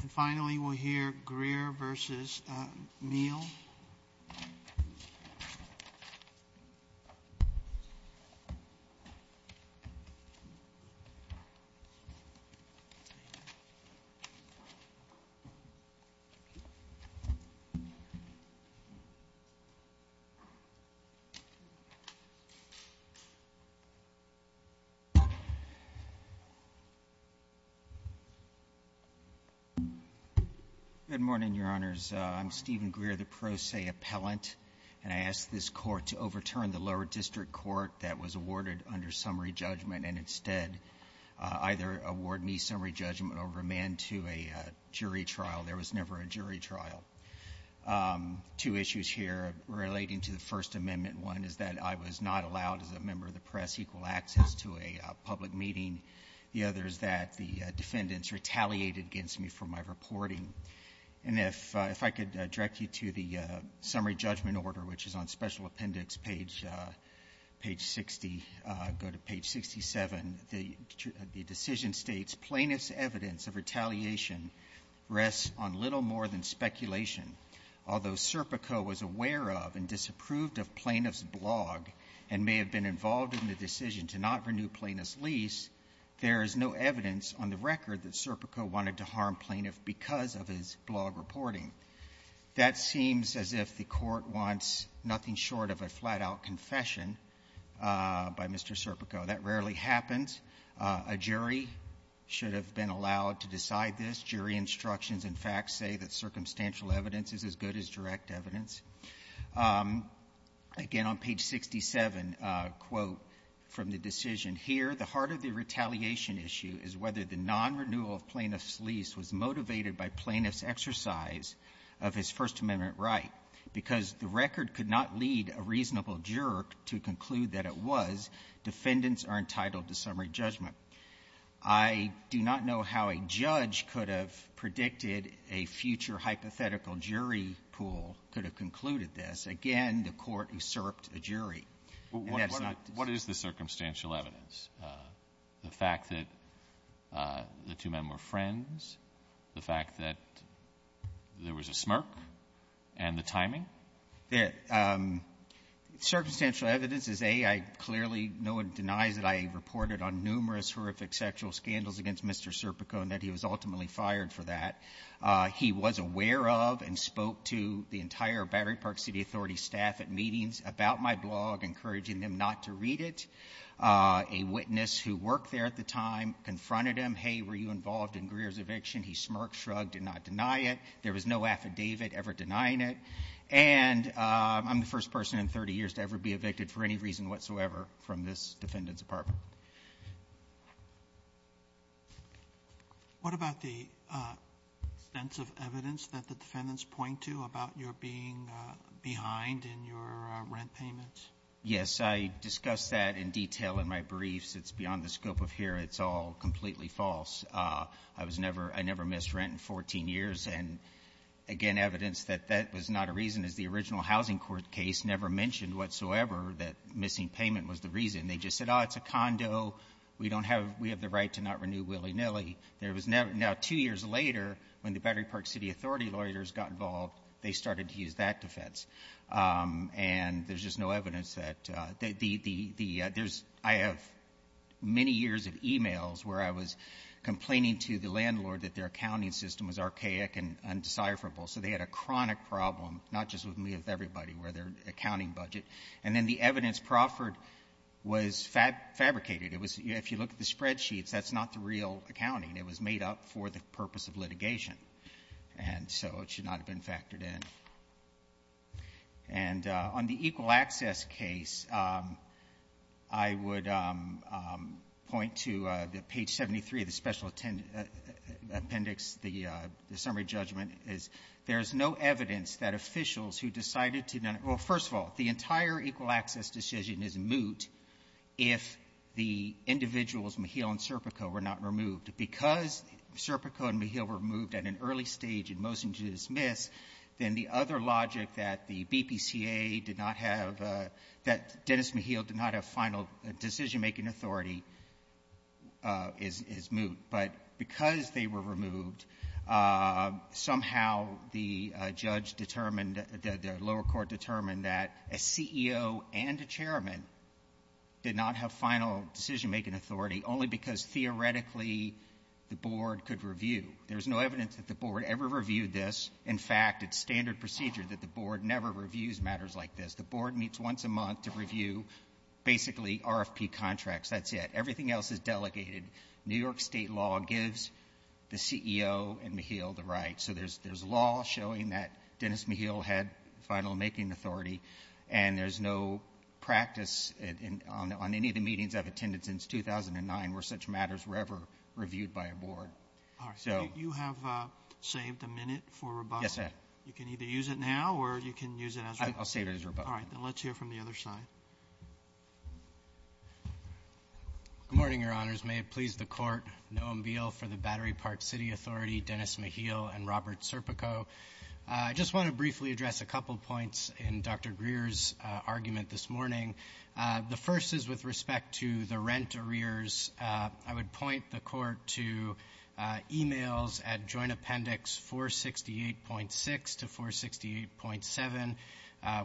And finally, we'll hear Greer v. Mehiel. Good morning, Your Honors. I'm Stephen Greer, the pro se appellant, and I ask this Court to overturn the lower district court that was awarded under summary judgment and instead either award me summary judgment over a man to a jury trial. There was never a jury trial. Two issues here relating to the First Amendment. One is that I was not allowed, as a member of the press, equal access to a public meeting. The other is that the defendants retaliated against me for my reporting. And if I could direct you to the summary judgment order, which is on Special Appendix page 60, go to page 67. The decision states, Plaintiff's evidence of retaliation rests on little more than speculation. Although Serpico was aware of and disapproved of Plaintiff's blog and may have been involved in the decision to not renew Plaintiff's lease, there is no evidence on the record that Serpico wanted to harm Plaintiff because of his blog reporting. That seems as if the Court wants nothing short of a flat-out confession by Mr. Serpico. That rarely happens. A jury should have been allowed to decide this. Jury instructions and facts say that circumstantial evidence is as good as direct evidence. Again, on page 67, a quote from the decision here, the heart of the retaliation issue is whether the non-renewal of Plaintiff's lease was motivated by Plaintiff's exercise of his First Amendment right, because the record could not lead a reasonable juror to conclude that it was. Defendants are entitled to summary judgment. I do not know how a judge could have predicted a future hypothetical jury pool could have concluded this. Again, the Court usurped a jury. And that is not to say. What is the circumstantial evidence? The fact that the two men were friends? The fact that there was a smirk? And the timing? Circumstantial evidence is, A, I clearly no one denies that I reported on numerous horrific sexual scandals against Mr. Serpico and that he was ultimately fired for that. He was aware of and spoke to the entire Battery Park City Authority staff at meetings about my blog, encouraging them not to read it. A witness who worked there at the time confronted him. Hey, were you involved in Greer's eviction? He smirked, shrugged, did not deny it. There was no affidavit ever denying it. And I'm the first person in 30 years to ever be evicted for any reason whatsoever from this defendant's apartment. Roberts. What about the extensive evidence that the defendants point to about your being behind in your rent payments? Yes. I discussed that in detail in my briefs. It's beyond the scope of here. It's all completely false. I was never — I never missed rent in 14 years. And, again, evidence that that was not a reason is the original housing court case never mentioned whatsoever that missing payment was the reason. They just said, oh, it's a condo. We don't have — we have the right to not renew willy-nilly. Now, two years later, when the Battery Park City Authority lawyers got involved, they started to use that defense. And there's just no evidence that the — I have many years of e-mails where I was complaining to the landlord that their accounting system was archaic and undecipherable. So they had a chronic problem, not just with me, with everybody, with their accounting budget. And then the evidence proffered was fabricated. It was — if you look at the spreadsheets, that's not the real accounting. It was made up for the purpose of litigation. And so it should not have been factored in. And on the equal access case, I would point to page 73 of the special appendix. The summary judgment is there's no evidence that officials who decided to — well, first of all, the entire equal access decision is moot if the individuals, Maheal and Serpico, were not removed. Because Serpico and Maheal were removed at an early stage in motion to dismiss, then the other logic that the BPCA did not have — that Dennis Maheal did not have final decision-making authority is moot. But because they were removed, somehow the judge determined, the lower court determined that a CEO and a chairman did not have final decision-making authority only because theoretically the board could review. There's no evidence that the board ever reviewed this. In fact, it's standard procedure that the board never reviews matters like this. The board meets once a month to review basically RFP contracts. That's it. Everything else is delegated. New York state law gives the CEO and Maheal the right. So there's law showing that Dennis Maheal had final decision-making authority, and there's no practice on any of the meetings I've attended since 2009 where such matters were ever reviewed by a board. All right. You have saved a minute for rebuttal. Yes, sir. You can either use it now or you can use it as — I'll save it as rebuttal. All right. Then let's hear from the other side. Good morning, Your Honors. May it please the Court. Noam Beale for the Battery Park City Authority, Dennis Maheal and Robert Serpico. I just want to briefly address a couple points in Dr. Greer's argument this morning. The first is with respect to the rent arrears. I would point the Court to emails at Joint Appendix 468.6 to 468.7,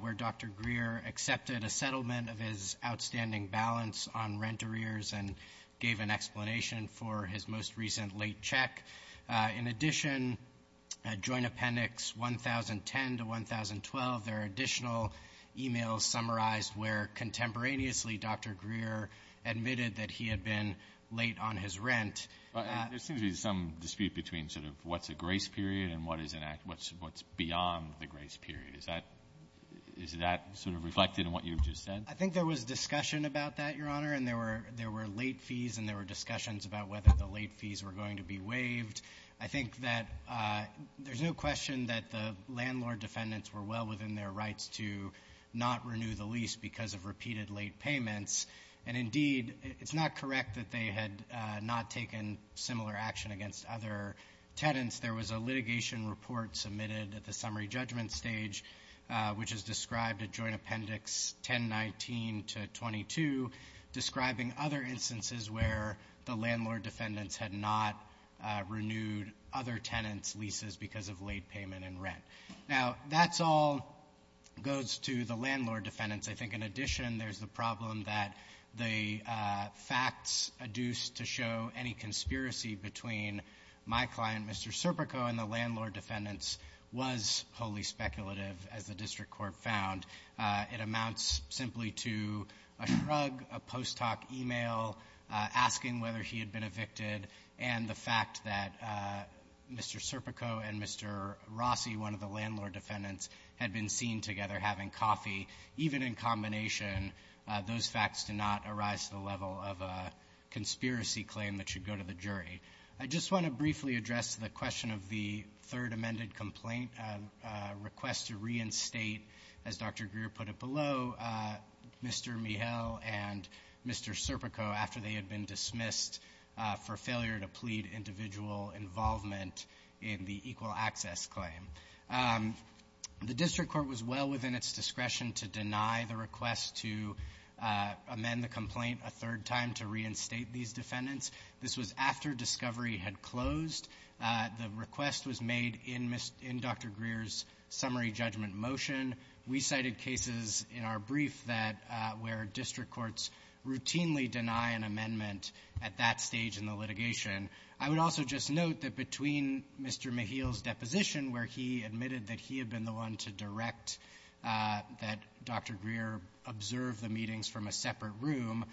where Dr. Greer accepted a settlement of his outstanding balance on rent arrears and gave an explanation for his most recent late check. In addition, Joint Appendix 1010 to 1012, there are additional emails summarized where contemporaneously Dr. Greer admitted that he had been late on his rent. There seems to be some dispute between sort of what's a grace period and what's beyond the grace period. Is that sort of reflected in what you've just said? I think there was discussion about that, Your Honor, and there were late fees and there were discussions about whether the late fees were going to be waived. I think that there's no question that the landlord defendants were well within their rights to not renew the lease because of repeated late payments. And, indeed, it's not correct that they had not taken similar action against other tenants. There was a litigation report submitted at the summary judgment stage, which is described at Joint Appendix 1019 to 1022, describing other instances where the landlord defendants had not renewed other tenants' leases because of late payment and rent. Now, that all goes to the landlord defendants. I think, in addition, there's the problem that the facts adduced to show any conspiracy between my client, Mr. Serpico, and the landlord defendants was wholly speculative, as the district court found. It amounts simply to a shrug, a post hoc email asking whether he had been evicted, and the fact that Mr. Serpico and Mr. Rossi, one of the landlord defendants, had been seen together having coffee, even in combination, those facts did not arise to the level of a conspiracy claim that should go to the jury. I just want to briefly address the question of the third amended complaint request to reinstate, as Dr. Greer put it below, Mr. Mijel and Mr. Serpico after they had been dismissed for failure to plead individual involvement in the equal access claim. The district court was well within its discretion to deny the request to amend the complaint a third time to reinstate these defendants. This was after discovery had closed. The request was made in Dr. Greer's summary judgment motion. We cited cases in our brief that where district courts routinely deny an amendment at that stage in the litigation. I would also just note that between Mr. Mijel's deposition, where he admitted that he had been the one to direct that Dr. Greer observe the meetings from a separate room,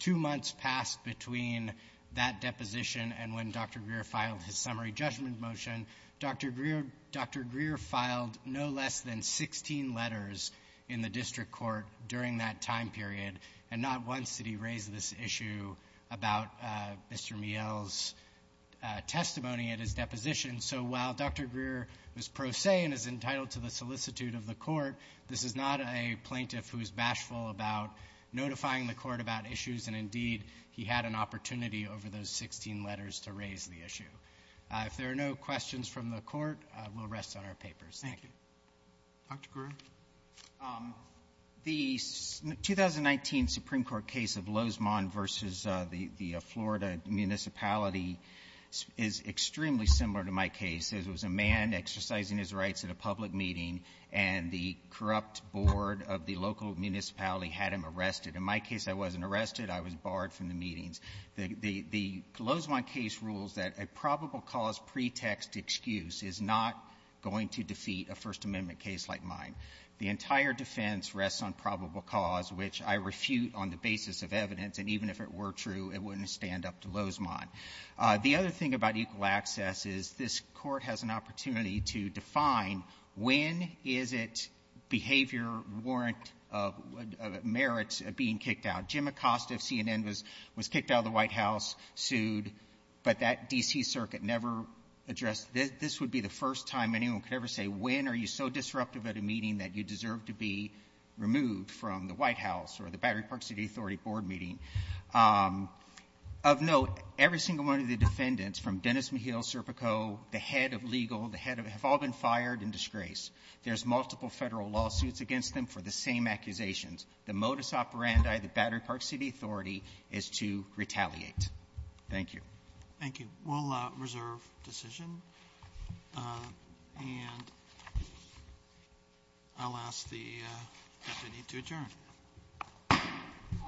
two months passed between that deposition and when Dr. Greer filed his summary judgment motion. Dr. Greer filed no less than 16 letters in the district court during that time period, and not once did he raise this issue about Mr. Mijel's testimony at his deposition. So while Dr. Greer was pro se and is entitled to the solicitude of the court, this is not a plaintiff who is bashful about notifying the court about issues, and indeed he had an opportunity over those 16 letters to raise the issue. If there are no questions from the Court, we'll rest on our papers. Thank you. Roberts. Dr. Greer. The 2019 Supreme Court case of Lozman v. the Florida municipality is extremely similar to my case. It was a man exercising his rights at a public meeting, and the corrupt board of the local municipality had him arrested. In my case, I wasn't arrested. I was barred from the meetings. The Lozman case rules that a probable cause pretext excuse is not going to defeat a First Amendment case like mine. The entire defense rests on probable cause, which I refute on the basis of evidence, and even if it were true, it wouldn't stand up to Lozman. The other thing about equal access is this Court has an opportunity to define when is it behavior warrant of merits being kicked out. Jim Acosta of CNN was kicked out of the White House, sued, but that D.C. circuit never addressed this. This would be the first time anyone could ever say, when are you so disruptive at a meeting that you deserve to be removed from the White House or the Battery Park City Authority board meeting? Of note, every single one of the defendants, from Dennis McHale, Serpico, the head of legal, the head of the head of the law, have all been fired in disgrace. There's multiple Federal lawsuits against them for the same accusations. The modus operandi of the Battery Park City Authority is to retaliate. Thank you. Thank you. We'll reserve decision, and I'll ask the deputy to adjourn. Thank you.